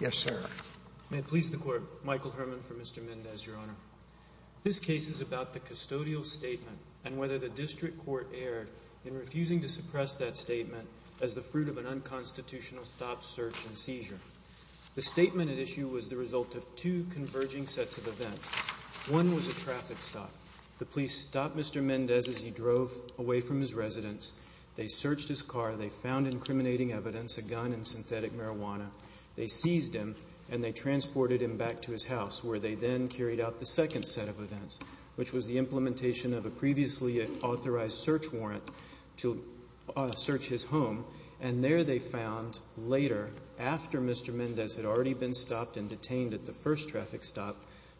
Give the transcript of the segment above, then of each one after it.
Yes, sir. May it please the Court, Michael Herman for Mr. Mendez, Your Honor. This case is about the custodial statement and whether the district court erred in refusing to suppress that statement as the fruit of an unconstitutional stop, search, and seizure. The statement at issue was the result of two converging sets of events. One was a traffic stop. The police stopped Mr. Mendez as he drove away from his residence. They searched his car. They found incriminating evidence, a gun and synthetic marijuana. They seized him and they transported him back to his house, where they then carried out the second set of events, which was the implementation of a previously authorized search warrant to search his home. And there they found, later, after Mr. Mendez had already been stopped and detained at the first traffic stop,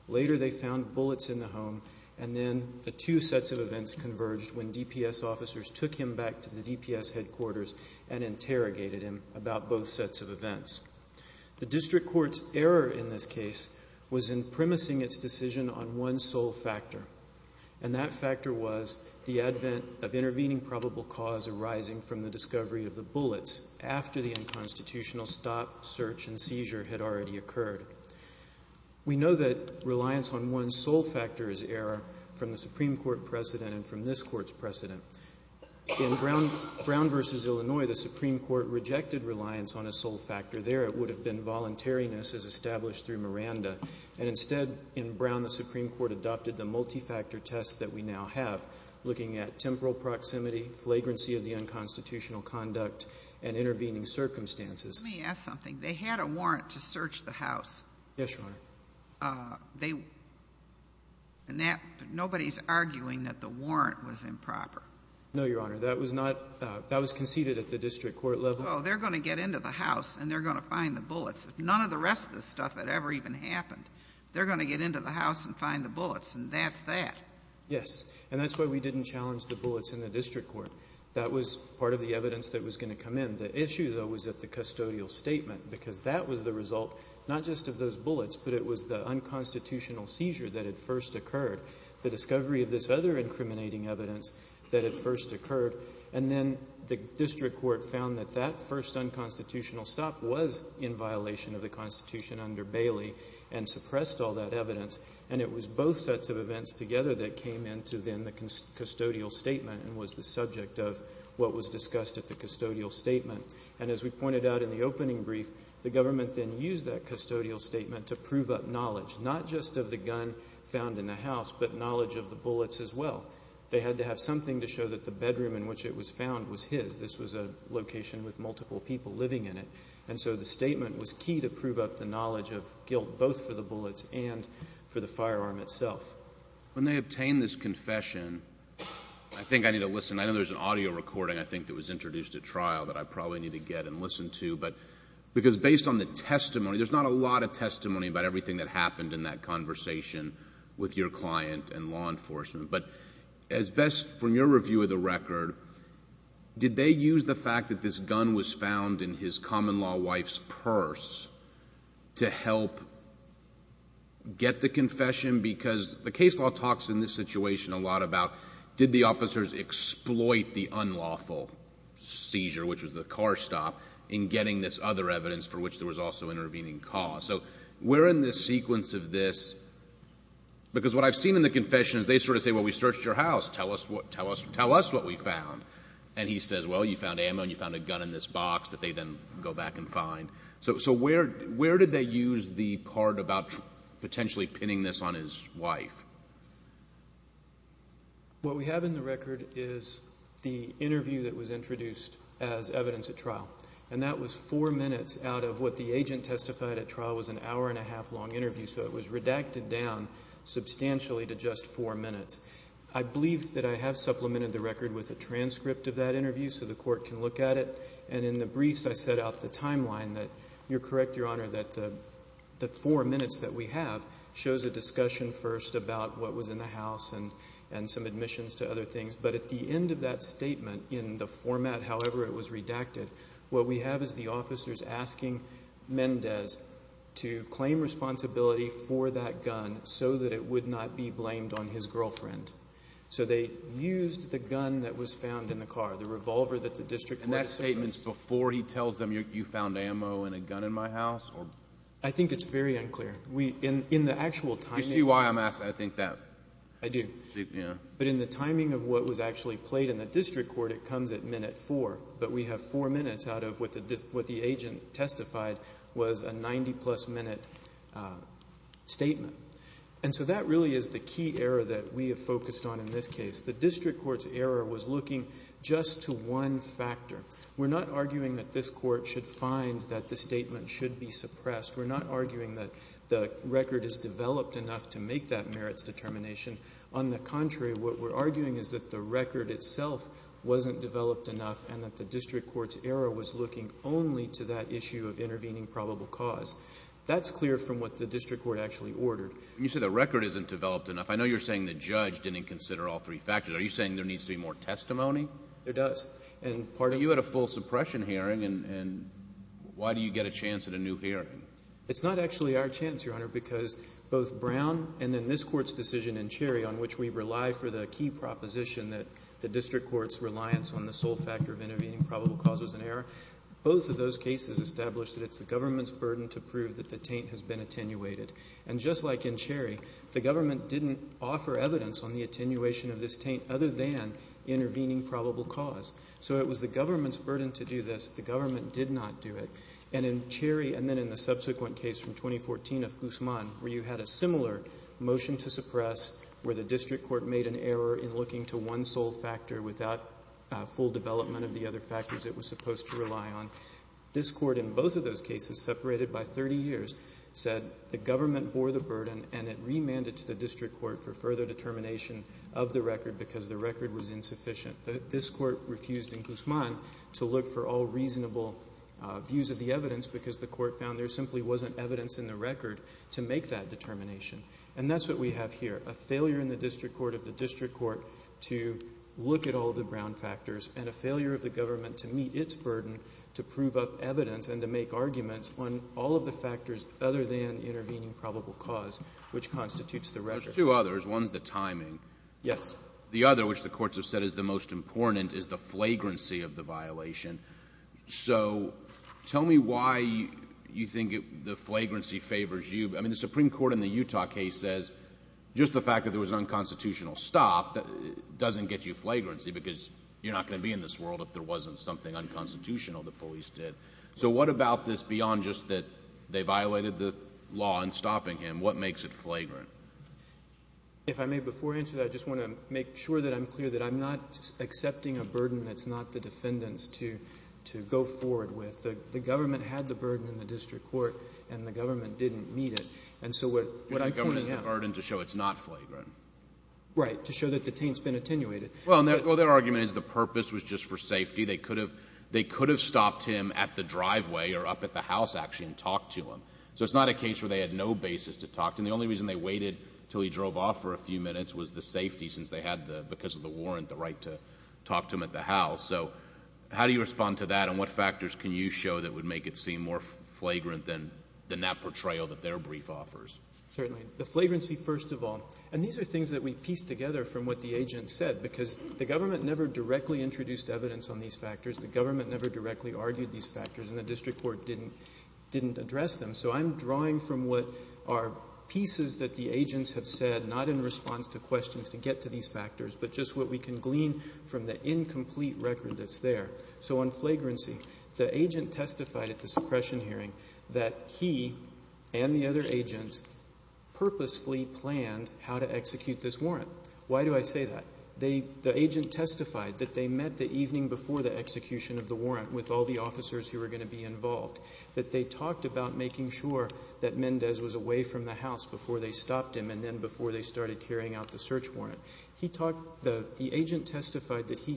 later they found bullets in the home, and then the two sets of events converged when DPS officers took him back to the DPS headquarters and interrogated him about both sets of events. The district court's error in this case was in premising its decision on one sole factor, and that factor was the advent of intervening probable cause arising from the discovery of the bullets after the unconstitutional stop, search, and seizure had already occurred. We know that reliance on one sole factor is error from the Supreme Court precedent and from this court's precedent. In Brown v. Illinois, the Supreme Court rejected reliance on a sole factor there. It would have been voluntariness as established through Miranda. And instead, in Brown, the Supreme Court adopted the multi-factor test that we now have, looking at temporal proximity, flagrancy of the unconstitutional conduct, and intervening circumstances. Let me ask something. They had a warrant to search the house. Yes, Your Honor. Nobody's arguing that the warrant was improper. No, Your Honor. That was conceded at the district court level. Oh, they're going to get into the house, and they're going to find the bullets. None of the rest of this stuff had ever even happened. They're going to get into the house and find the bullets, and that's that. Yes, and that's why we didn't challenge the bullets in the district court. That was part of the evidence that was going to come in. The issue, though, was that the custodial statement, because that was the result not just of those bullets, but it was the unconstitutional seizure that had first occurred, the discovery of this other incriminating evidence that had first occurred, and then the district court found that that first unconstitutional stop was in violation of the Constitution under Bailey and suppressed all that evidence. And it was both sets of events together that came into, then, the custodial statement and was the subject of what was discussed at the custodial statement. And as we pointed out in the opening brief, the government then used that custodial statement to prove up knowledge, not just of the gun found in the house, but knowledge of the bullets as well. They had to have something to show that the bedroom in which it was found was his. This was a location with multiple people living in it. And so the statement was key to prove up the knowledge of guilt both for the bullets and for the firearm itself. When they obtained this confession, I think I need to listen. I know there's an audio recording, I think, that was introduced at trial that I probably need to get and listen to. But because based on the testimony, there's not a lot of testimony about everything that happened in that conversation with your client and law enforcement. But as best from your review of the record, did they use the fact that this gun was found in his common-law wife's purse to help get the confession? Because the case law talks in this situation a lot about did the officers exploit the unlawful seizure, which was the car stop, in getting this other evidence for which there was also intervening cause. So we're in this sequence of this because what I've seen in the confession is they sort of say, well, we searched your house. Tell us what we found. And he says, well, you found ammo and you found a gun in this box that they then go back and find. So where did they use the part about potentially pinning this on his wife? What we have in the record is the interview that was introduced as evidence at trial. And that was four minutes out of what the agent testified at trial was an hour-and-a-half long interview. So it was redacted down substantially to just four minutes. I believe that I have supplemented the record with a transcript of that interview so the court can look at it. And in the briefs I set out the timeline that you're correct, Your Honor, that the four minutes that we have shows a discussion first about what was in the house and some admissions to other things. But at the end of that statement, in the format, however, it was redacted, what we have is the officers asking Mendez to claim responsibility for that gun so that it would not be blamed on his girlfriend. So they used the gun that was found in the car, the revolver that the district court had submitted. Were there any statements before he tells them you found ammo and a gun in my house? I think it's very unclear. In the actual timing. You see why I'm asking, I think, that. I do. Yeah. But in the timing of what was actually played in the district court, it comes at minute four. But we have four minutes out of what the agent testified was a 90-plus minute statement. And so that really is the key error that we have focused on in this case. The district court's error was looking just to one factor. We're not arguing that this court should find that the statement should be suppressed. We're not arguing that the record is developed enough to make that merits determination. On the contrary, what we're arguing is that the record itself wasn't developed enough and that the district court's error was looking only to that issue of intervening probable cause. That's clear from what the district court actually ordered. When you say the record isn't developed enough, I know you're saying the judge didn't consider all three factors. Are you saying there needs to be more testimony? There does. You had a full suppression hearing, and why do you get a chance at a new hearing? It's not actually our chance, Your Honor, because both Brown and then this court's decision in Cherry on which we rely for the key proposition that the district court's reliance on the sole factor of intervening probable cause was an error, both of those cases established that it's the government's burden to prove that the taint has been attenuated. And just like in Cherry, the government didn't offer evidence on the attenuation of this taint other than intervening probable cause. So it was the government's burden to do this. The government did not do it. And in Cherry and then in the subsequent case from 2014 of Guzman, where you had a similar motion to suppress where the district court made an error in looking to one sole factor without full development of the other factors it was supposed to rely on, this court in both of those cases, separated by 30 years, said the government bore the burden and it remanded to the district court for further determination of the record because the record was insufficient. This court refused in Guzman to look for all reasonable views of the evidence because the court found there simply wasn't evidence in the record to make that determination. And that's what we have here, a failure in the district court of the district court to look at all the Brown factors and a failure of the government to meet its burden to prove up evidence and to make arguments on all of the factors other than intervening probable cause, which constitutes the record. There's two others. One is the timing. Yes. The other, which the courts have said is the most important, is the flagrancy of the violation. So tell me why you think the flagrancy favors you. I mean, the Supreme Court in the Utah case says just the fact that there was an unconstitutional stop doesn't get you flagrancy because you're not going to be in this world if there wasn't something unconstitutional the police did. So what about this beyond just that they violated the law in stopping him? What makes it flagrant? If I may, before I answer that, I just want to make sure that I'm clear that I'm not accepting a burden that's not the defendant's to go forward with. The government had the burden in the district court, and the government didn't meet it. And so what I'm pointing out— The government has the burden to show it's not flagrant. Right, to show that the taint's been attenuated. Well, their argument is the purpose was just for safety. They could have stopped him at the driveway or up at the house, actually, and talked to him. So it's not a case where they had no basis to talk to him. The only reason they waited until he drove off for a few minutes was the safety since they had, because of the warrant, the right to talk to him at the house. So how do you respond to that, and what factors can you show that would make it seem more flagrant than that portrayal that their brief offers? Certainly. The flagrancy, first of all. And these are things that we piece together from what the agent said, because the government never directly introduced evidence on these factors. The government never directly argued these factors, and the district court didn't address them. So I'm drawing from what are pieces that the agents have said, not in response to questions to get to these factors, but just what we can glean from the incomplete record that's there. So on flagrancy, the agent testified at the suppression hearing that he and the other agents purposefully planned how to execute this warrant. Why do I say that? The agent testified that they met the evening before the execution of the warrant with all the officers who were going to be involved, that they talked about making sure that Mendez was away from the house before they stopped him and then before they started carrying out the search warrant. The agent testified that he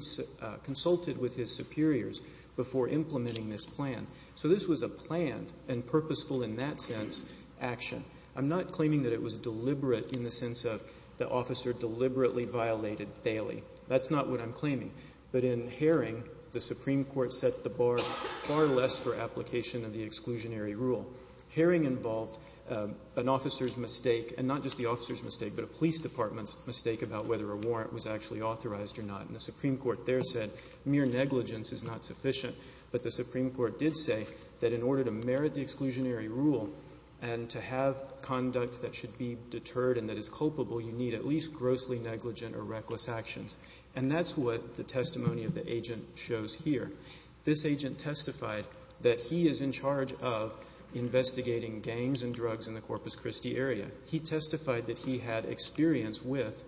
consulted with his superiors before implementing this plan. So this was a planned and purposeful in that sense action. I'm not claiming that it was deliberate in the sense of the officer deliberately violated Bailey. That's not what I'm claiming. But in Haring, the Supreme Court set the bar far less for application of the exclusionary rule. Haring involved an officer's mistake, and not just the officer's mistake, but a police department's mistake about whether a warrant was actually authorized or not. And the Supreme Court there said mere negligence is not sufficient. But the Supreme Court did say that in order to merit the exclusionary rule and to have conduct that should be deterred and that is culpable, you need at least grossly negligent or reckless actions. And that's what the testimony of the agent shows here. This agent testified that he is in charge of investigating gangs and drugs in the Corpus Christi area. He testified that he had experience with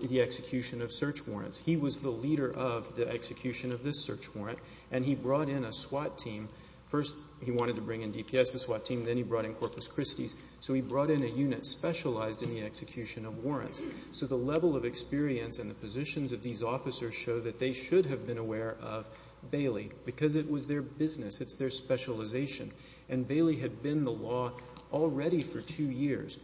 the execution of search warrants. He was the leader of the execution of this search warrant, and he brought in a SWAT team. First he wanted to bring in DPS's SWAT team. Then he brought in Corpus Christi's. So he brought in a unit specialized in the execution of warrants. So the level of experience and the positions of these officers show that they should have been aware of Bailey because it was their business. It's their specialization. And Bailey had been the law already for two years.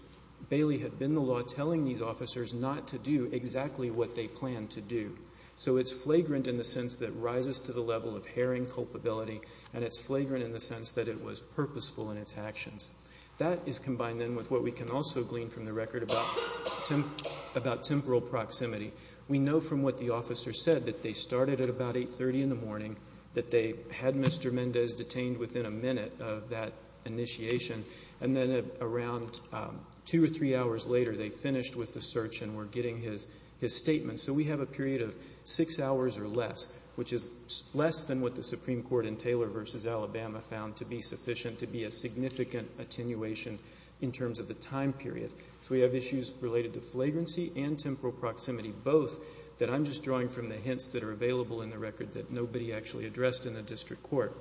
Bailey had been the law telling these officers not to do exactly what they planned to do. So it's flagrant in the sense that it rises to the level of herring culpability, and it's flagrant in the sense that it was purposeful in its actions. That is combined then with what we can also glean from the record about temporal proximity. We know from what the officer said that they started at about 830 in the morning, that they had Mr. Mendez detained within a minute of that initiation, and then around two or three hours later they finished with the search and were getting his statement. So we have a period of six hours or less, which is less than what the Supreme Court in Taylor v. Alabama found to be sufficient to be a significant attenuation in terms of the time period. So we have issues related to flagrancy and temporal proximity, both that I'm just drawing from the hints that are available in the record that nobody actually addressed in the district court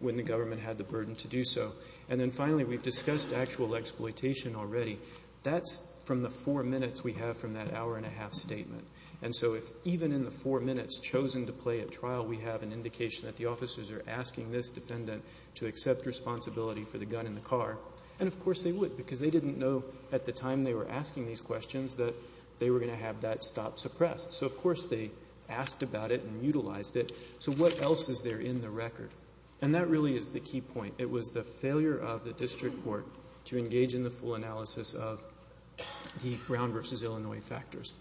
when the government had the burden to do so. And then finally we've discussed actual exploitation already. That's from the four minutes we have from that hour and a half statement. And so if even in the four minutes chosen to play at trial we have an indication that the officers are asking this defendant to accept responsibility for the gun in the car, and of course they would because they didn't know at the time they were asking these questions that they were going to have that stop suppressed. So of course they asked about it and utilized it. So what else is there in the record? And that really is the key point. It was the failure of the district court to engage in the full analysis of the Brown v. Illinois factors.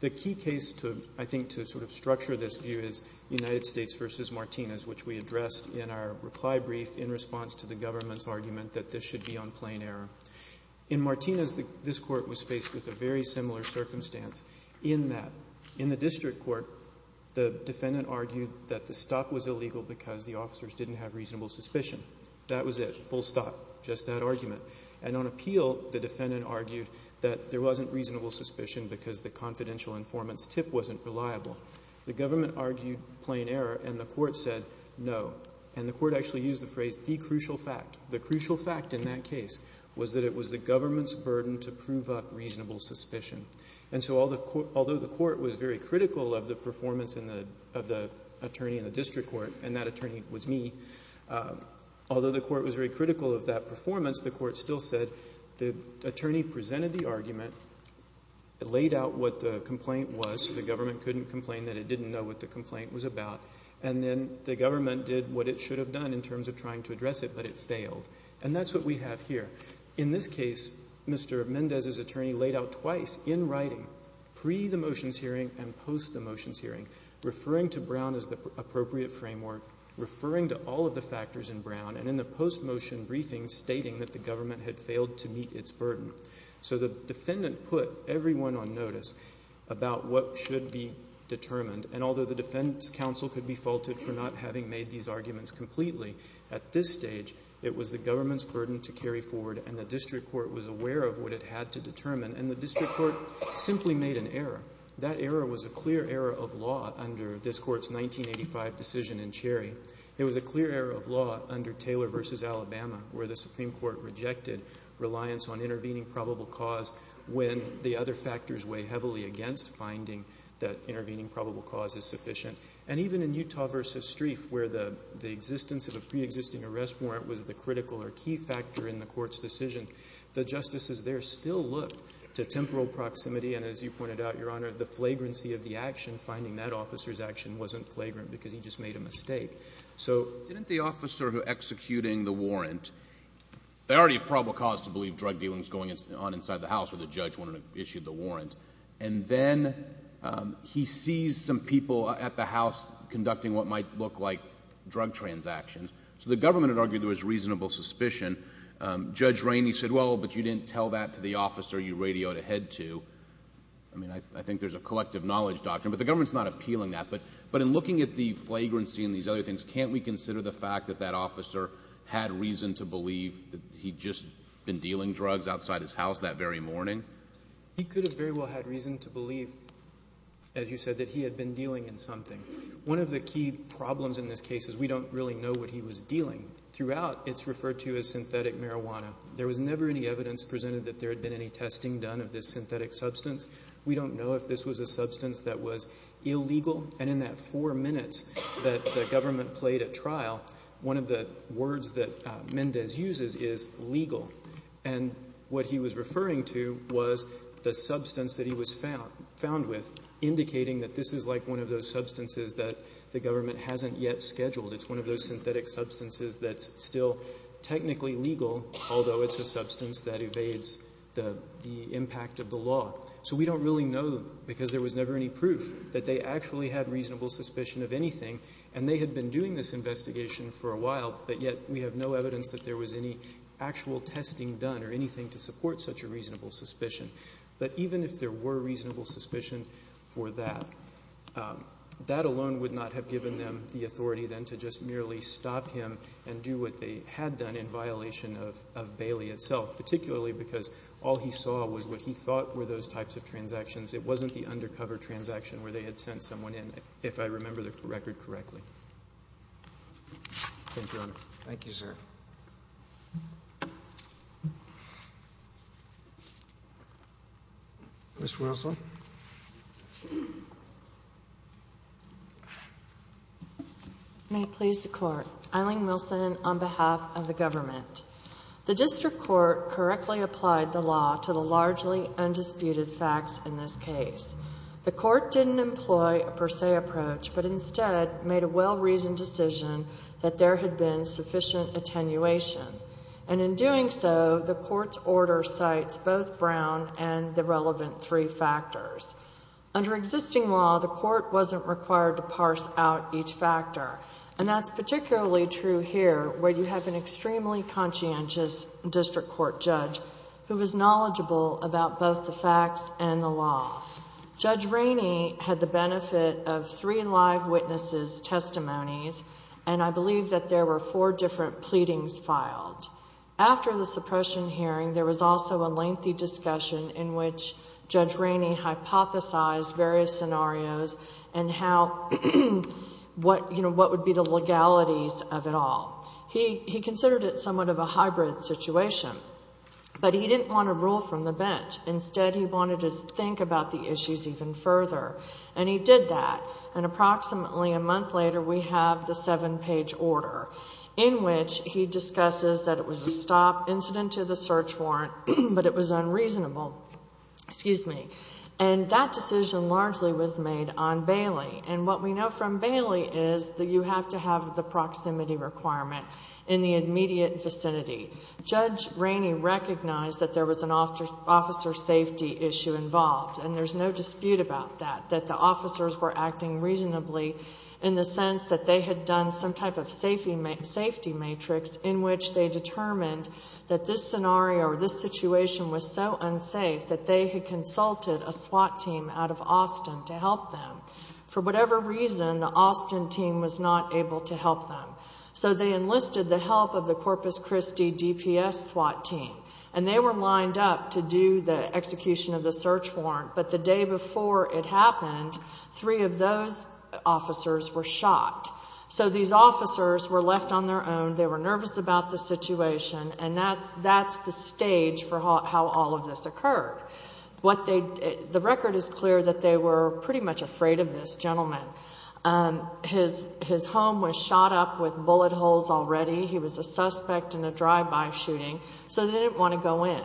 The key case, I think, to sort of structure this view is United States v. Martinez, which we addressed in our reply brief in response to the government's argument that this should be on plain error. In Martinez this court was faced with a very similar circumstance in that in the district court the defendant argued that the stop was illegal because the officers didn't have reasonable suspicion. That was it, full stop, just that argument. And on appeal the defendant argued that there wasn't reasonable suspicion because the confidential informant's tip wasn't reliable. The government argued plain error and the court said no. And the court actually used the phrase the crucial fact. The crucial fact in that case was that it was the government's burden to prove up reasonable suspicion. And so although the court was very critical of the performance of the attorney in the district court, and that attorney was me, although the court was very critical of that performance, the court still said the attorney presented the argument, laid out what the complaint was so the government couldn't complain that it didn't know what the complaint was about, and then the government did what it should have done in terms of trying to address it, but it failed. And that's what we have here. In this case, Mr. Mendez's attorney laid out twice in writing, pre the motions hearing and post the motions hearing, referring to Brown as the appropriate framework, referring to all of the factors in Brown, and in the post-motion briefing stating that the government had failed to meet its burden. So the defendant put everyone on notice about what should be determined, and although the defense counsel could be faulted for not having made these arguments completely, at this stage it was the government's burden to carry forward, and the district court was aware of what it had to determine, and the district court simply made an error. That error was a clear error of law under this court's 1985 decision in Cherry. It was a clear error of law under Taylor v. Alabama, where the Supreme Court rejected reliance on intervening probable cause when the other factors weigh heavily against finding that intervening probable cause is sufficient. And even in Utah v. Strieff, where the existence of a preexisting arrest warrant was the critical or key factor in the court's decision, the justices there still looked to temporal proximity, and as you pointed out, Your Honor, the flagrancy of the action, finding that officer's action wasn't flagrant because he just made a mistake. Didn't the officer who was executing the warrant, they already have probable cause to believe drug dealing is going on inside the house or the judge wanted to issue the warrant, and then he sees some people at the house conducting what might look like drug transactions. So the government had argued there was reasonable suspicion. Judge Rainey said, well, but you didn't tell that to the officer you radioed ahead to. I mean, I think there's a collective knowledge doctrine, but the government's not appealing that. But in looking at the flagrancy and these other things, can't we consider the fact that that officer had reason to believe that he'd just been dealing drugs outside his house that very morning? He could have very well had reason to believe, as you said, that he had been dealing in something. One of the key problems in this case is we don't really know what he was dealing. Throughout, it's referred to as synthetic marijuana. There was never any evidence presented that there had been any testing done of this synthetic substance. We don't know if this was a substance that was illegal, and in that four minutes that the government played at trial, one of the words that Mendez uses is legal. And what he was referring to was the substance that he was found with, indicating that this is like one of those substances that the government hasn't yet scheduled. It's one of those synthetic substances that's still technically legal, although it's a substance that evades the impact of the law. So we don't really know because there was never any proof that they actually had reasonable suspicion of anything. And they had been doing this investigation for a while, but yet we have no evidence that there was any actual testing done or anything to support such a reasonable suspicion. But even if there were reasonable suspicion for that, that alone would not have given them the authority then to just merely stop him and do what they had done in violation of Bailey itself, particularly because all he saw was what he thought were those types of transactions. It wasn't the undercover transaction where they had sent someone in, if I remember the record correctly. Thank you. Thank you, Your Honor. Thank you, sir. Ms. Wilson. May it please the Court. Eileen Wilson on behalf of the government. The district court correctly applied the law to the largely undisputed facts in this case. The court didn't employ a per se approach, but instead made a well-reasoned decision that there had been sufficient attenuation. And in doing so, the court's order cites both Brown and the relevant three factors. Under existing law, the court wasn't required to parse out each factor. And that's particularly true here where you have an extremely conscientious district court judge who is knowledgeable about both the facts and the law. Judge Rainey had the benefit of three live witnesses' testimonies. And I believe that there were four different pleadings filed. After the suppression hearing, there was also a lengthy discussion in which Judge Rainey hypothesized various scenarios and what would be the legalities of it all. He considered it somewhat of a hybrid situation. But he didn't want to rule from the bench. Instead, he wanted to think about the issues even further. And he did that. And approximately a month later, we have the seven-page order in which he discusses that it was a stop incident to the search warrant, but it was unreasonable. Excuse me. And that decision largely was made on Bailey. And what we know from Bailey is that you have to have the proximity requirement in the immediate vicinity. Judge Rainey recognized that there was an officer safety issue involved, and there's no dispute about that, that the officers were acting reasonably in the sense that they had done some type of safety matrix in which they determined that this scenario or this situation was so unsafe that they had consulted a SWAT team out of Austin to help them. For whatever reason, the Austin team was not able to help them. So they enlisted the help of the Corpus Christi DPS SWAT team, and they were lined up to do the execution of the search warrant. But the day before it happened, three of those officers were shot. So these officers were left on their own. They were nervous about the situation, and that's the stage for how all of this occurred. The record is clear that they were pretty much afraid of this gentleman. His home was shot up with bullet holes already. He was a suspect in a drive-by shooting, so they didn't want to go in.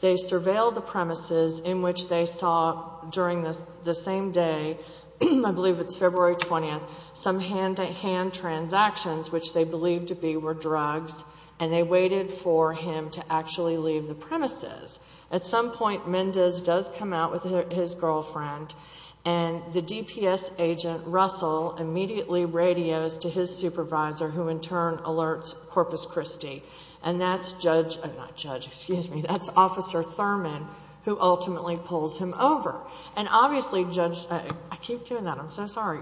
They surveilled the premises in which they saw during the same day, I believe it's February 20th, some hand-to-hand transactions, which they believed to be drugs, and they waited for him to actually leave the premises. At some point, Mendez does come out with his girlfriend, and the DPS agent, Russell, immediately radios to his supervisor, who in turn alerts Corpus Christi. And that's Officer Thurman who ultimately pulls him over. And obviously, Judge, I keep doing that. I'm so sorry.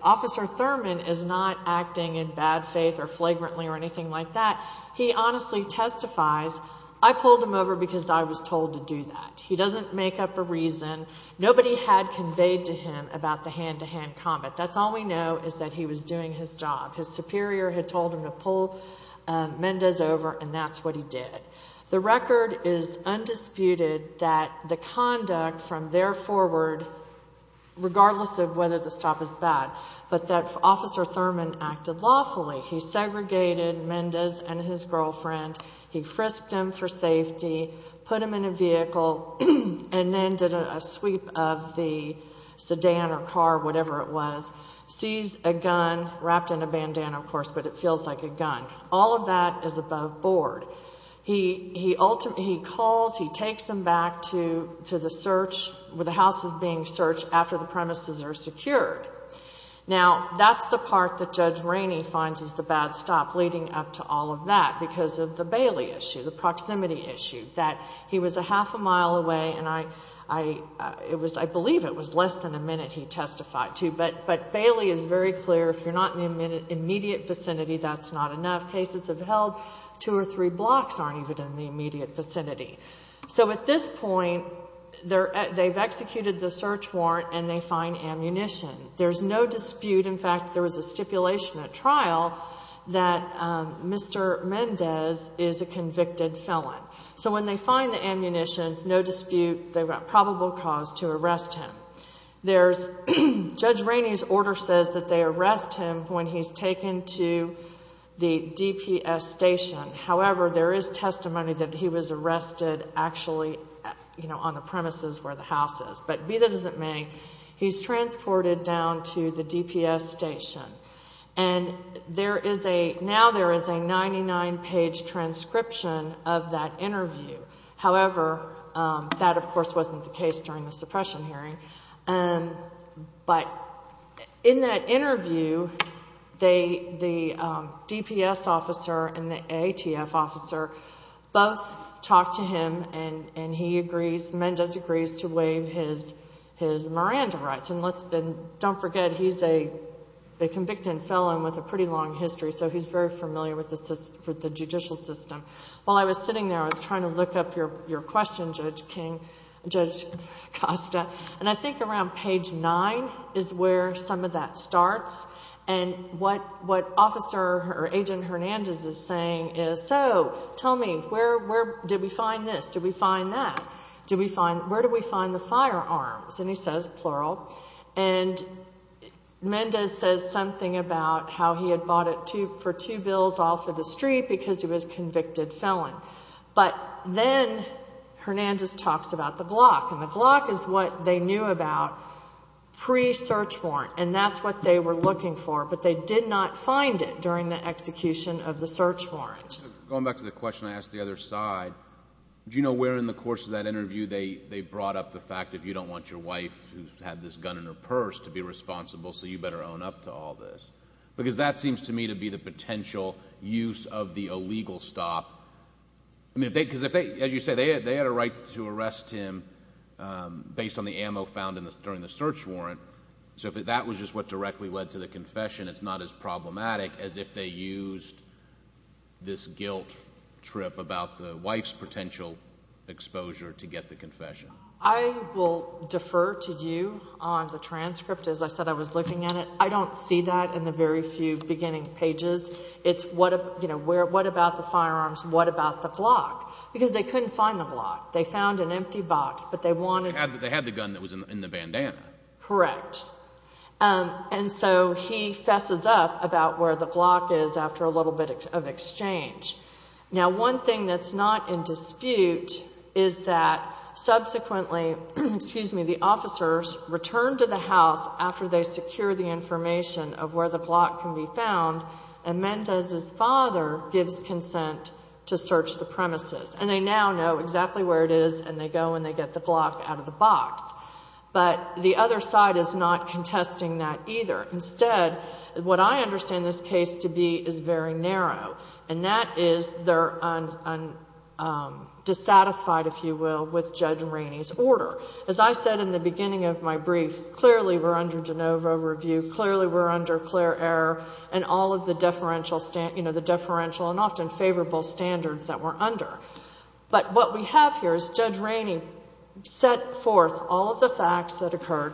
Officer Thurman is not acting in bad faith or flagrantly or anything like that. He honestly testifies, I pulled him over because I was told to do that. He doesn't make up a reason. Nobody had conveyed to him about the hand-to-hand combat. That's all we know is that he was doing his job. His superior had told him to pull Mendez over, and that's what he did. The record is undisputed that the conduct from there forward, regardless of whether the stop is bad, but that Officer Thurman acted lawfully. He segregated Mendez and his girlfriend. He frisked him for safety, put him in a vehicle, and then did a sweep of the sedan or car, whatever it was, seized a gun, wrapped in a bandana, of course, but it feels like a gun. All of that is above board. He calls, he takes them back to the search, where the house is being searched after the premises are secured. Now, that's the part that Judge Rainey finds is the bad stop leading up to all of that because of the Bailey issue, the proximity issue, that he was a half a mile away, and I believe it was less than a minute he testified to, but Bailey is very clear, if you're not in the immediate vicinity, that's not enough. Cases have held two or three blocks aren't even in the immediate vicinity. So at this point, they've executed the search warrant, and they find ammunition. There's no dispute. In fact, there was a stipulation at trial that Mr. Mendez is a convicted felon. So when they find the ammunition, no dispute, they've got probable cause to arrest him. Judge Rainey's order says that they arrest him when he's taken to the DPS station. However, there is testimony that he was arrested actually on the premises where the house is. But be that as it may, he's transported down to the DPS station, and now there is a 99-page transcription of that interview. However, that, of course, wasn't the case during the suppression hearing. But in that interview, the DPS officer and the ATF officer both talked to him, and he agrees, Mendez agrees, to waive his Miranda rights. And don't forget, he's a convicted felon with a pretty long history, so he's very familiar with the judicial system. While I was sitting there, I was trying to look up your question, Judge Costa, and I think around page 9 is where some of that starts. And what Agent Hernandez is saying is, so tell me, where did we find this? Did we find that? Where did we find the firearms? And he says, plural, and Mendez says something about how he had bought it for two bills off of the street because he was a convicted felon. But then Hernandez talks about the Glock, and the Glock is what they knew about pre-search warrant, and that's what they were looking for, but they did not find it during the execution of the search warrant. Going back to the question I asked the other side, do you know where in the course of that interview they brought up the fact that you don't want your wife who had this gun in her purse to be responsible, so you better own up to all this? Because that seems to me to be the potential use of the illegal stop. As you said, they had a right to arrest him based on the ammo found during the search warrant, so if that was just what directly led to the confession, it's not as problematic as if they used this guilt trip about the wife's potential exposure to get the confession. I will defer to you on the transcript. As I said, I was looking at it. I don't see that in the very few beginning pages. It's what about the firearms? What about the Glock? Because they couldn't find the Glock. They found an empty box, but they wanted— They had the gun that was in the bandana. Correct. And so he fesses up about where the Glock is after a little bit of exchange. Now, one thing that's not in dispute is that subsequently the officers returned to the house after they secure the information of where the Glock can be found, and Mendez's father gives consent to search the premises. And they now know exactly where it is, and they go and they get the Glock out of the box. But the other side is not contesting that either. Instead, what I understand this case to be is very narrow, and that is they're dissatisfied, if you will, with Judge Rainey's order. As I said in the beginning of my brief, clearly we're under de novo review, clearly we're under clear error, and all of the deferential and often favorable standards that we're under. But what we have here is Judge Rainey set forth all of the facts that occurred.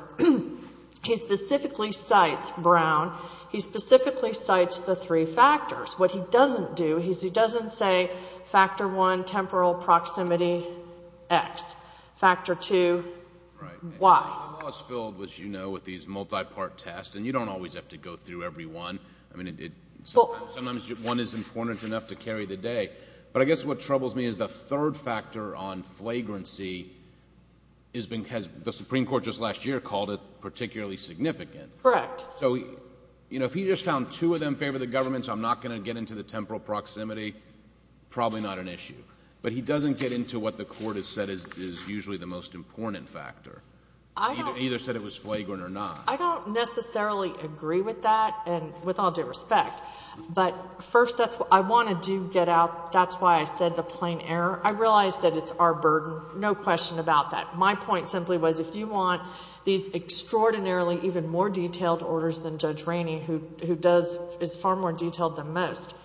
He specifically cites Brown. He specifically cites the three factors. What he doesn't do is he doesn't say factor one, temporal proximity, X. Factor two, Y. The law is filled, as you know, with these multi-part tests, and you don't always have to go through every one. Sometimes one is important enough to carry the day. But I guess what troubles me is the third factor on flagrancy has been, the Supreme Court just last year called it particularly significant. Correct. So, you know, if he just found two of them in favor of the government, so I'm not going to get into the temporal proximity, probably not an issue. But he doesn't get into what the Court has said is usually the most important factor. He either said it was flagrant or not. I don't necessarily agree with that, and with all due respect. But first, I want to do get out, that's why I said the plain error. I realize that it's our burden, no question about that. My point simply was if you want these extraordinarily, even more detailed orders than Judge Rainey, who does, is far more detailed than most,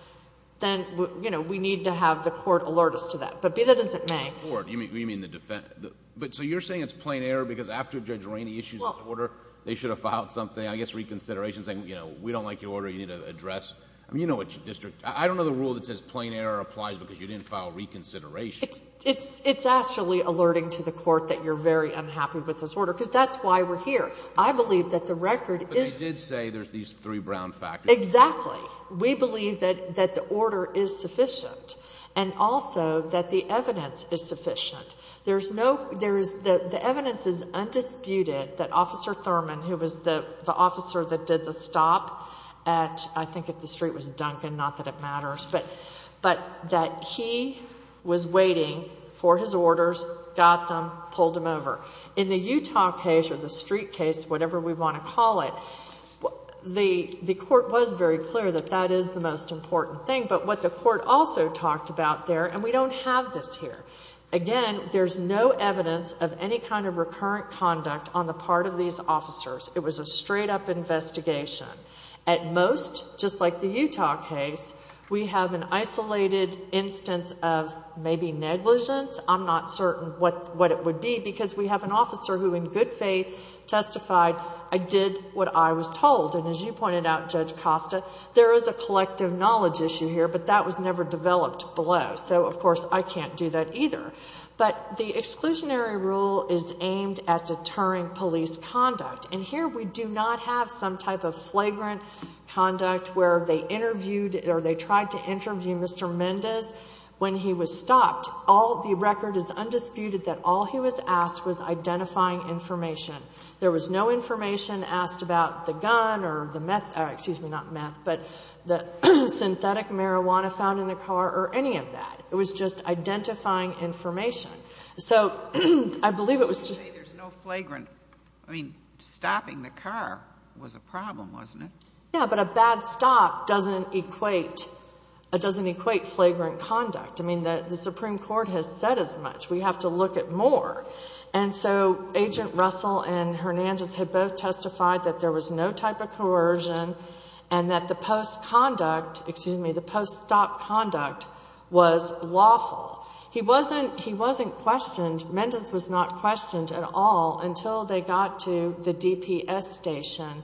then, you know, we need to have the Court alert us to that. But be that as it may. You mean the defense? So you're saying it's plain error because after Judge Rainey issues his order, they should have filed something, I guess reconsideration, saying, you know, we don't like your order, you need to address. I mean, you know what your district, I don't know the rule that says plain error applies because you didn't file reconsideration. It's actually alerting to the Court that you're very unhappy with this order, because that's why we're here. I believe that the record is. But they did say there's these three brown factors. Exactly. We believe that the order is sufficient and also that the evidence is sufficient. There's no, there is, the evidence is undisputed that Officer Thurman, who was the officer that did the stop at, I think at the street was Duncan, not that it matters, but that he was waiting for his orders, got them, pulled them over. In the Utah case or the street case, whatever we want to call it, the Court was very clear that that is the most important thing. But what the Court also talked about there, and we don't have this here, again, there's no evidence of any kind of recurrent conduct on the part of these officers. It was a straight-up investigation. At most, just like the Utah case, we have an isolated instance of maybe negligence. I'm not certain what it would be, because we have an officer who in good faith testified, I did what I was told. And as you pointed out, Judge Costa, there is a collective knowledge issue here, but that was never developed below. So, of course, I can't do that either. But the exclusionary rule is aimed at deterring police conduct. And here we do not have some type of flagrant conduct where they interviewed or they tried to interview Mr. Mendez when he was stopped. All the record is undisputed that all he was asked was identifying information. There was no information asked about the gun or the meth, excuse me, not meth, but the synthetic marijuana found in the car or any of that. It was just identifying information. So I believe it was just... You say there's no flagrant. I mean, stopping the car was a problem, wasn't it? Yeah, but a bad stop doesn't equate flagrant conduct. I mean, the Supreme Court has said as much. We have to look at more. And so Agent Russell and Hernandez had both testified that there was no type of coercion and that the post-conduct, excuse me, the post-stop conduct was lawful. He wasn't questioned. Mendez was not questioned at all until they got to the DPS station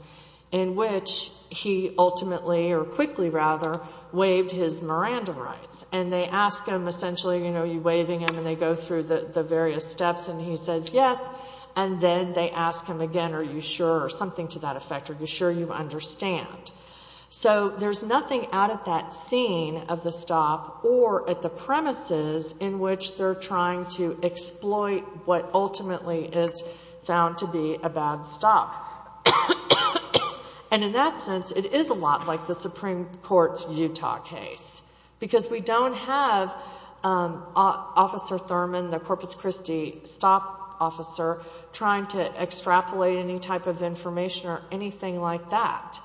in which he ultimately, or quickly rather, waived his Miranda rights. And they ask him essentially, you know, you're waiving him, and they go through the various steps and he says yes, and then they ask him again are you sure or something to that effect. Are you sure you understand? So there's nothing out at that scene of the stop or at the premises in which they're trying to exploit what ultimately is found to be a bad stop. And in that sense it is a lot like the Supreme Court's Utah case because we don't have Officer Thurman, the Corpus Christi stop officer, trying to extrapolate any type of information or anything like that.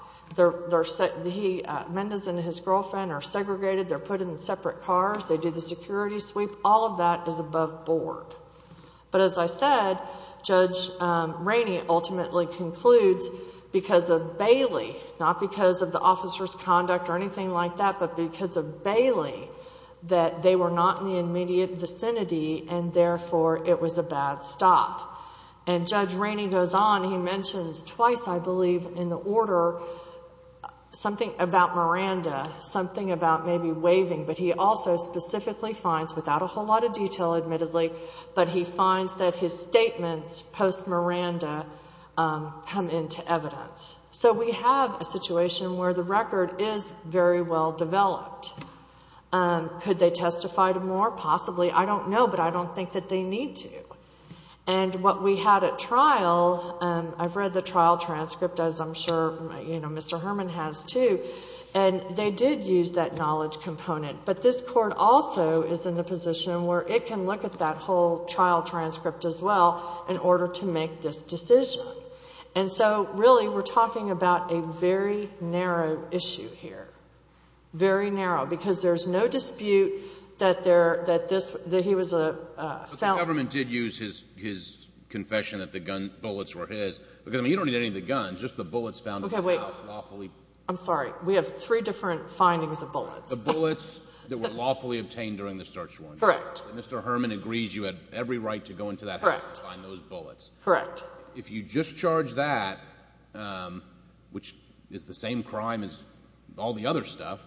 Mendez and his girlfriend are segregated. They're put in separate cars. They do the security sweep. All of that is above board. But as I said, Judge Rainey ultimately concludes because of Bailey, not because of the officer's conduct or anything like that, but because of Bailey that they were not in the immediate vicinity and therefore it was a bad stop. And Judge Rainey goes on. He mentions twice, I believe, in the order something about Miranda, something about maybe waiving, but he also specifically finds without a whole lot of detail admittedly, but he finds that his statements post-Miranda come into evidence. So we have a situation where the record is very well developed. Could they testify to more? Possibly. I don't know, but I don't think that they need to. And what we had at trial, I've read the trial transcript, as I'm sure Mr. Herman has too, and they did use that knowledge component. But this court also is in the position where it can look at that whole trial transcript as well in order to make this decision. And so really we're talking about a very narrow issue here, very narrow, because there's no dispute that he was a felon. But the government did use his confession that the bullets were his. Because, I mean, you don't need any of the guns, just the bullets found in the house. Okay, wait. I'm sorry. We have three different findings of bullets. The bullets that were lawfully obtained during the search warrant. Correct. And Mr. Herman agrees you had every right to go into that house and find those bullets. Correct. If you discharge that, which is the same crime as all the other stuff,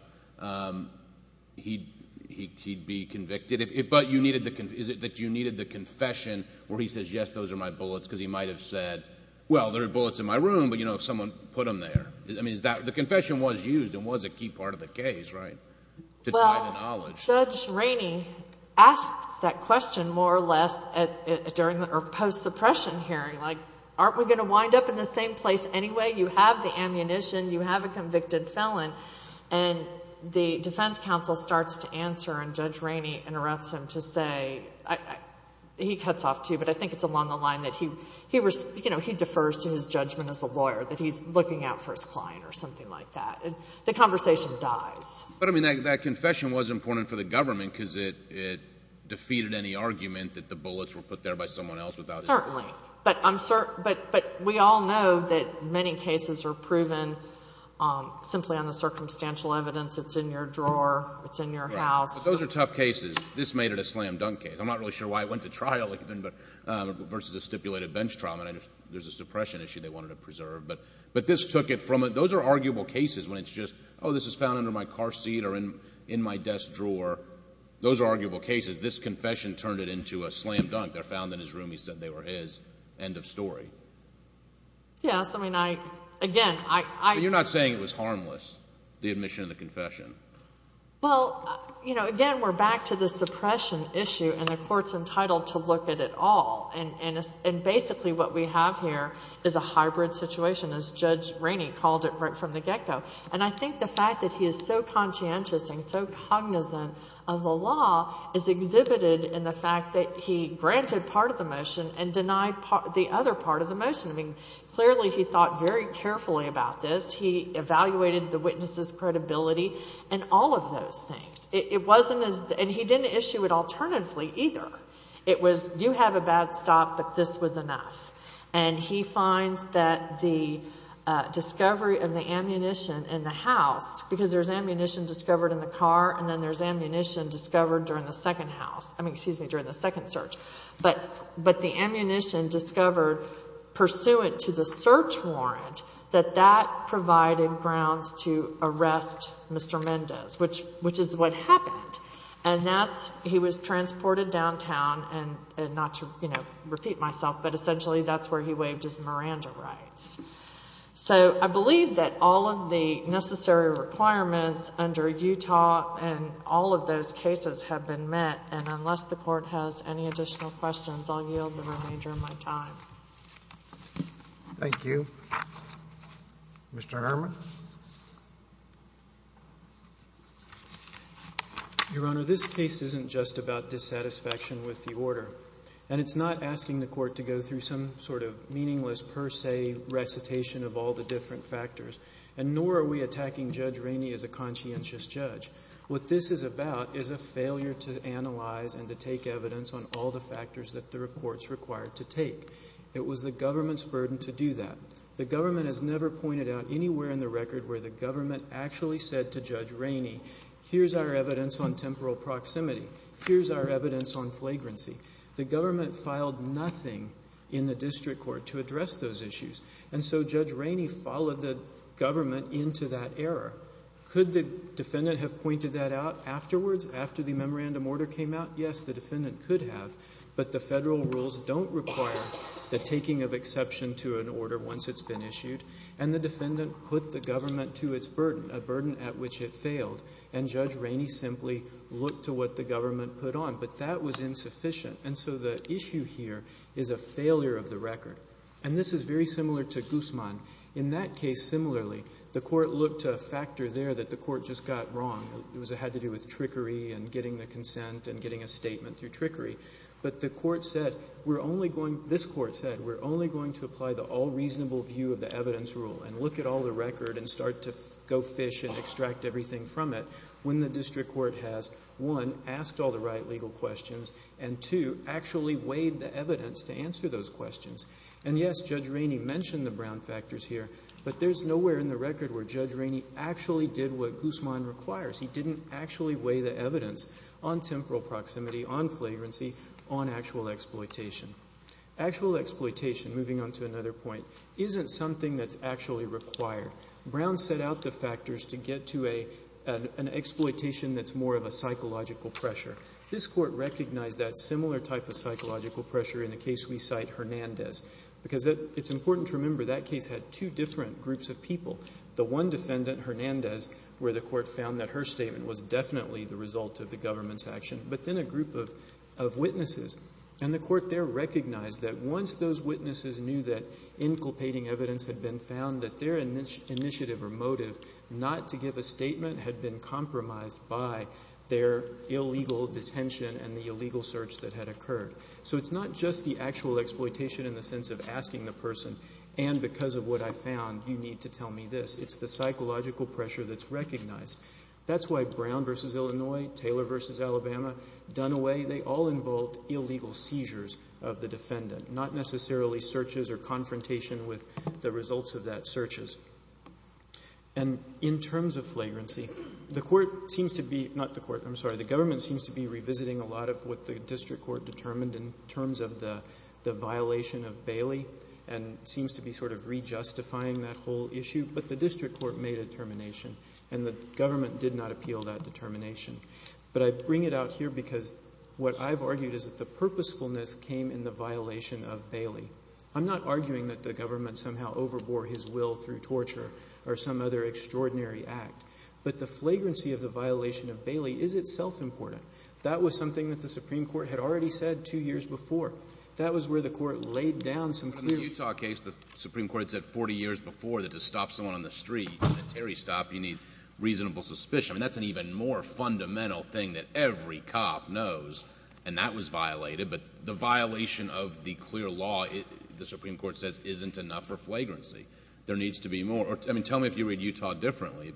he'd be convicted. But is it that you needed the confession where he says, yes, those are my bullets, because he might have said, well, there are bullets in my room, but, you know, someone put them there. I mean, the confession was used and was a key part of the case, right, to tie the knowledge. Judge Rainey asks that question more or less during the post-suppression hearing. Like, aren't we going to wind up in the same place anyway? You have the ammunition. You have a convicted felon. And the defense counsel starts to answer, and Judge Rainey interrupts him to say, he cuts off too, but I think it's along the line that he, you know, he defers to his judgment as a lawyer, that he's looking out for his client or something like that. The conversation dies. But, I mean, that confession was important for the government because it defeated any argument that the bullets were put there by someone else without his knowledge. Certainly. But we all know that many cases are proven simply on the circumstantial evidence. It's in your drawer. It's in your house. Those are tough cases. This made it a slam-dunk case. I'm not really sure why it went to trial even versus a stipulated bench trial. There's a suppression issue they wanted to preserve. But this took it from it. Those are arguable cases when it's just, oh, this is found under my car seat or in my desk drawer. Those are arguable cases. This confession turned it into a slam-dunk. They're found in his room. He said they were his. End of story. Yes. I mean, I, again, I... But you're not saying it was harmless, the admission of the confession. Well, you know, again, we're back to the suppression issue, and the court's entitled to look at it all. And basically what we have here is a hybrid situation, as Judge Rainey called it right from the get-go. And I think the fact that he is so conscientious and so cognizant of the law is exhibited in the fact that he granted part of the motion and denied the other part of the motion. I mean, clearly he thought very carefully about this. He evaluated the witness's credibility and all of those things. It wasn't as... And he didn't issue it alternatively either. It was, you have a bad stop, but this was enough. And he finds that the discovery of the ammunition in the house, because there's ammunition discovered in the car, and then there's ammunition discovered during the second house. I mean, excuse me, during the second search. But the ammunition discovered, pursuant to the search warrant, that that provided grounds to arrest Mr. Mendez, which is what happened. And that's... he was transported downtown, and not to, you know, repeat myself, but essentially that's where he waived his Miranda rights. So I believe that all of the necessary requirements under Utah and all of those cases have been met. And unless the Court has any additional questions, I'll yield the remainder of my time. Thank you. Mr. Herman? Your Honor, this case isn't just about dissatisfaction with the order. And it's not asking the Court to go through some sort of meaningless per se recitation of all the different factors, and nor are we attacking Judge Rainey as a conscientious judge. What this is about is a failure to analyze and to take evidence on all the factors that the Court's required to take. It was the government's burden to do that. The government has never pointed out anywhere in the record where the government actually said to Judge Rainey, here's our evidence on temporal proximity, here's our evidence on flagrancy. The government filed nothing in the district court to address those issues. And so Judge Rainey followed the government into that error. Could the defendant have pointed that out afterwards, after the memorandum order came out? Yes, the defendant could have. But the federal rules don't require the taking of exception to an order once it's been issued. And the defendant put the government to its burden, a burden at which it failed. And Judge Rainey simply looked to what the government put on. But that was insufficient. And so the issue here is a failure of the record. And this is very similar to Guzman. In that case, similarly, the Court looked to a factor there that the Court just got wrong. It had to do with trickery and getting the consent and getting a statement through trickery. But the Court said, we're only going, this Court said, we're only going to apply the all-reasonable view of the evidence rule and look at all the record and start to go fish and extract everything from it, when the district court has, one, asked all the right legal questions, and, two, actually weighed the evidence to answer those questions. And, yes, Judge Rainey mentioned the brown factors here, but there's nowhere in the record where Judge Rainey actually did what Guzman requires. He didn't actually weigh the evidence on temporal proximity, on flagrancy, on actual exploitation. Actual exploitation, moving on to another point, isn't something that's actually required. Brown set out the factors to get to an exploitation that's more of a psychological pressure. This Court recognized that similar type of psychological pressure in the case we cite, Hernandez, because it's important to remember that case had two different groups of people. The one defendant, Hernandez, where the Court found that her statement was definitely the result of the government's action, but then a group of witnesses. And the Court there recognized that once those witnesses knew that inculpating evidence had been found, that their initiative or motive not to give a statement had been compromised by their illegal detention and the illegal search that had occurred. So it's not just the actual exploitation in the sense of asking the person, and because of what I found, you need to tell me this. It's the psychological pressure that's recognized. That's why Brown v. Illinois, Taylor v. Alabama, Dunaway, they all involved illegal seizures of the defendant, not necessarily searches or confrontation with the results of that searches. And in terms of flagrancy, the Court seems to be, not the Court, I'm sorry, the government seems to be revisiting a lot of what the district court determined in terms of the violation of Bailey and seems to be sort of re-justifying that whole issue. But the district court made a determination, and the government did not appeal that determination. But I bring it out here because what I've argued is that the purposefulness came in the violation of Bailey. I'm not arguing that the government somehow overbore his will through torture or some other extraordinary act, but the flagrancy of the violation of Bailey is itself important. That was something that the Supreme Court had already said two years before. That was where the Court laid down some clear laws. In the Utah case, the Supreme Court had said 40 years before that to stop someone on the street at a Terry stop, you need reasonable suspicion. I mean, that's an even more fundamental thing that every cop knows, and that was violated. But the violation of the clear law, the Supreme Court says, isn't enough for flagrancy. There needs to be more. I mean, tell me if you read Utah differently.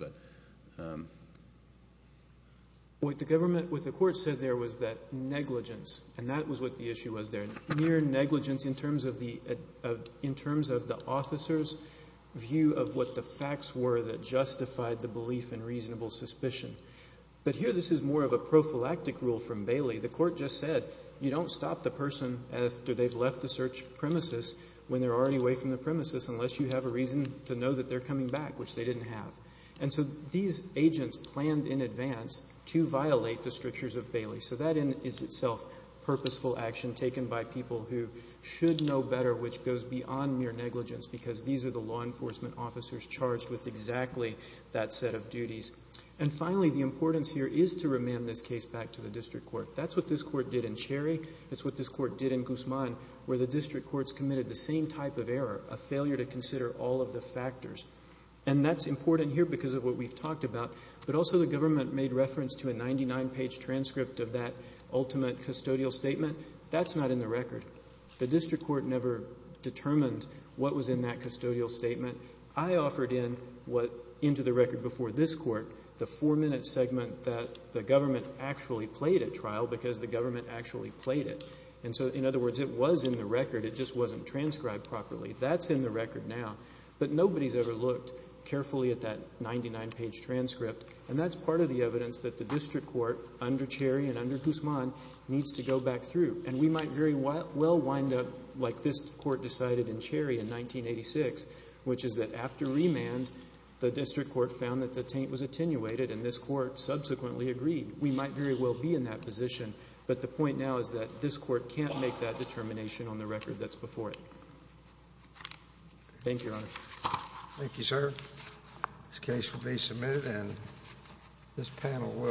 What the Court said there was that negligence, and that was what the issue was there, near negligence in terms of the officer's view of what the facts were that justified the belief in reasonable suspicion. But here this is more of a prophylactic rule from Bailey. The Court just said you don't stop the person after they've left the search premises when they're already away from the premises unless you have a reason to know that they're coming back, which they didn't have. And so these agents planned in advance to violate the strictures of Bailey. So that in itself is purposeful action taken by people who should know better, which goes beyond mere negligence because these are the law enforcement officers charged with exactly that set of duties. And finally, the importance here is to remand this case back to the district court. That's what this court did in Cherry. That's what this court did in Guzman where the district courts committed the same type of error, a failure to consider all of the factors. And that's important here because of what we've talked about. But also the government made reference to a 99-page transcript of that ultimate custodial statement. That's not in the record. The district court never determined what was in that custodial statement. I offered into the record before this court the four-minute segment that the government actually played at trial because the government actually played it. And so, in other words, it was in the record. It just wasn't transcribed properly. That's in the record now. But nobody's ever looked carefully at that 99-page transcript, and that's part of the evidence that the district court under Cherry and under Guzman needs to go back through. And we might very well wind up like this court decided in Cherry in 1986, which is that after remand, the district court found that the taint was attenuated, and this court subsequently agreed. We might very well be in that position. But the point now is that this court can't make that determination on the record that's before it. Thank you, Your Honor. Thank you, sir. This case will be submitted, and this panel will.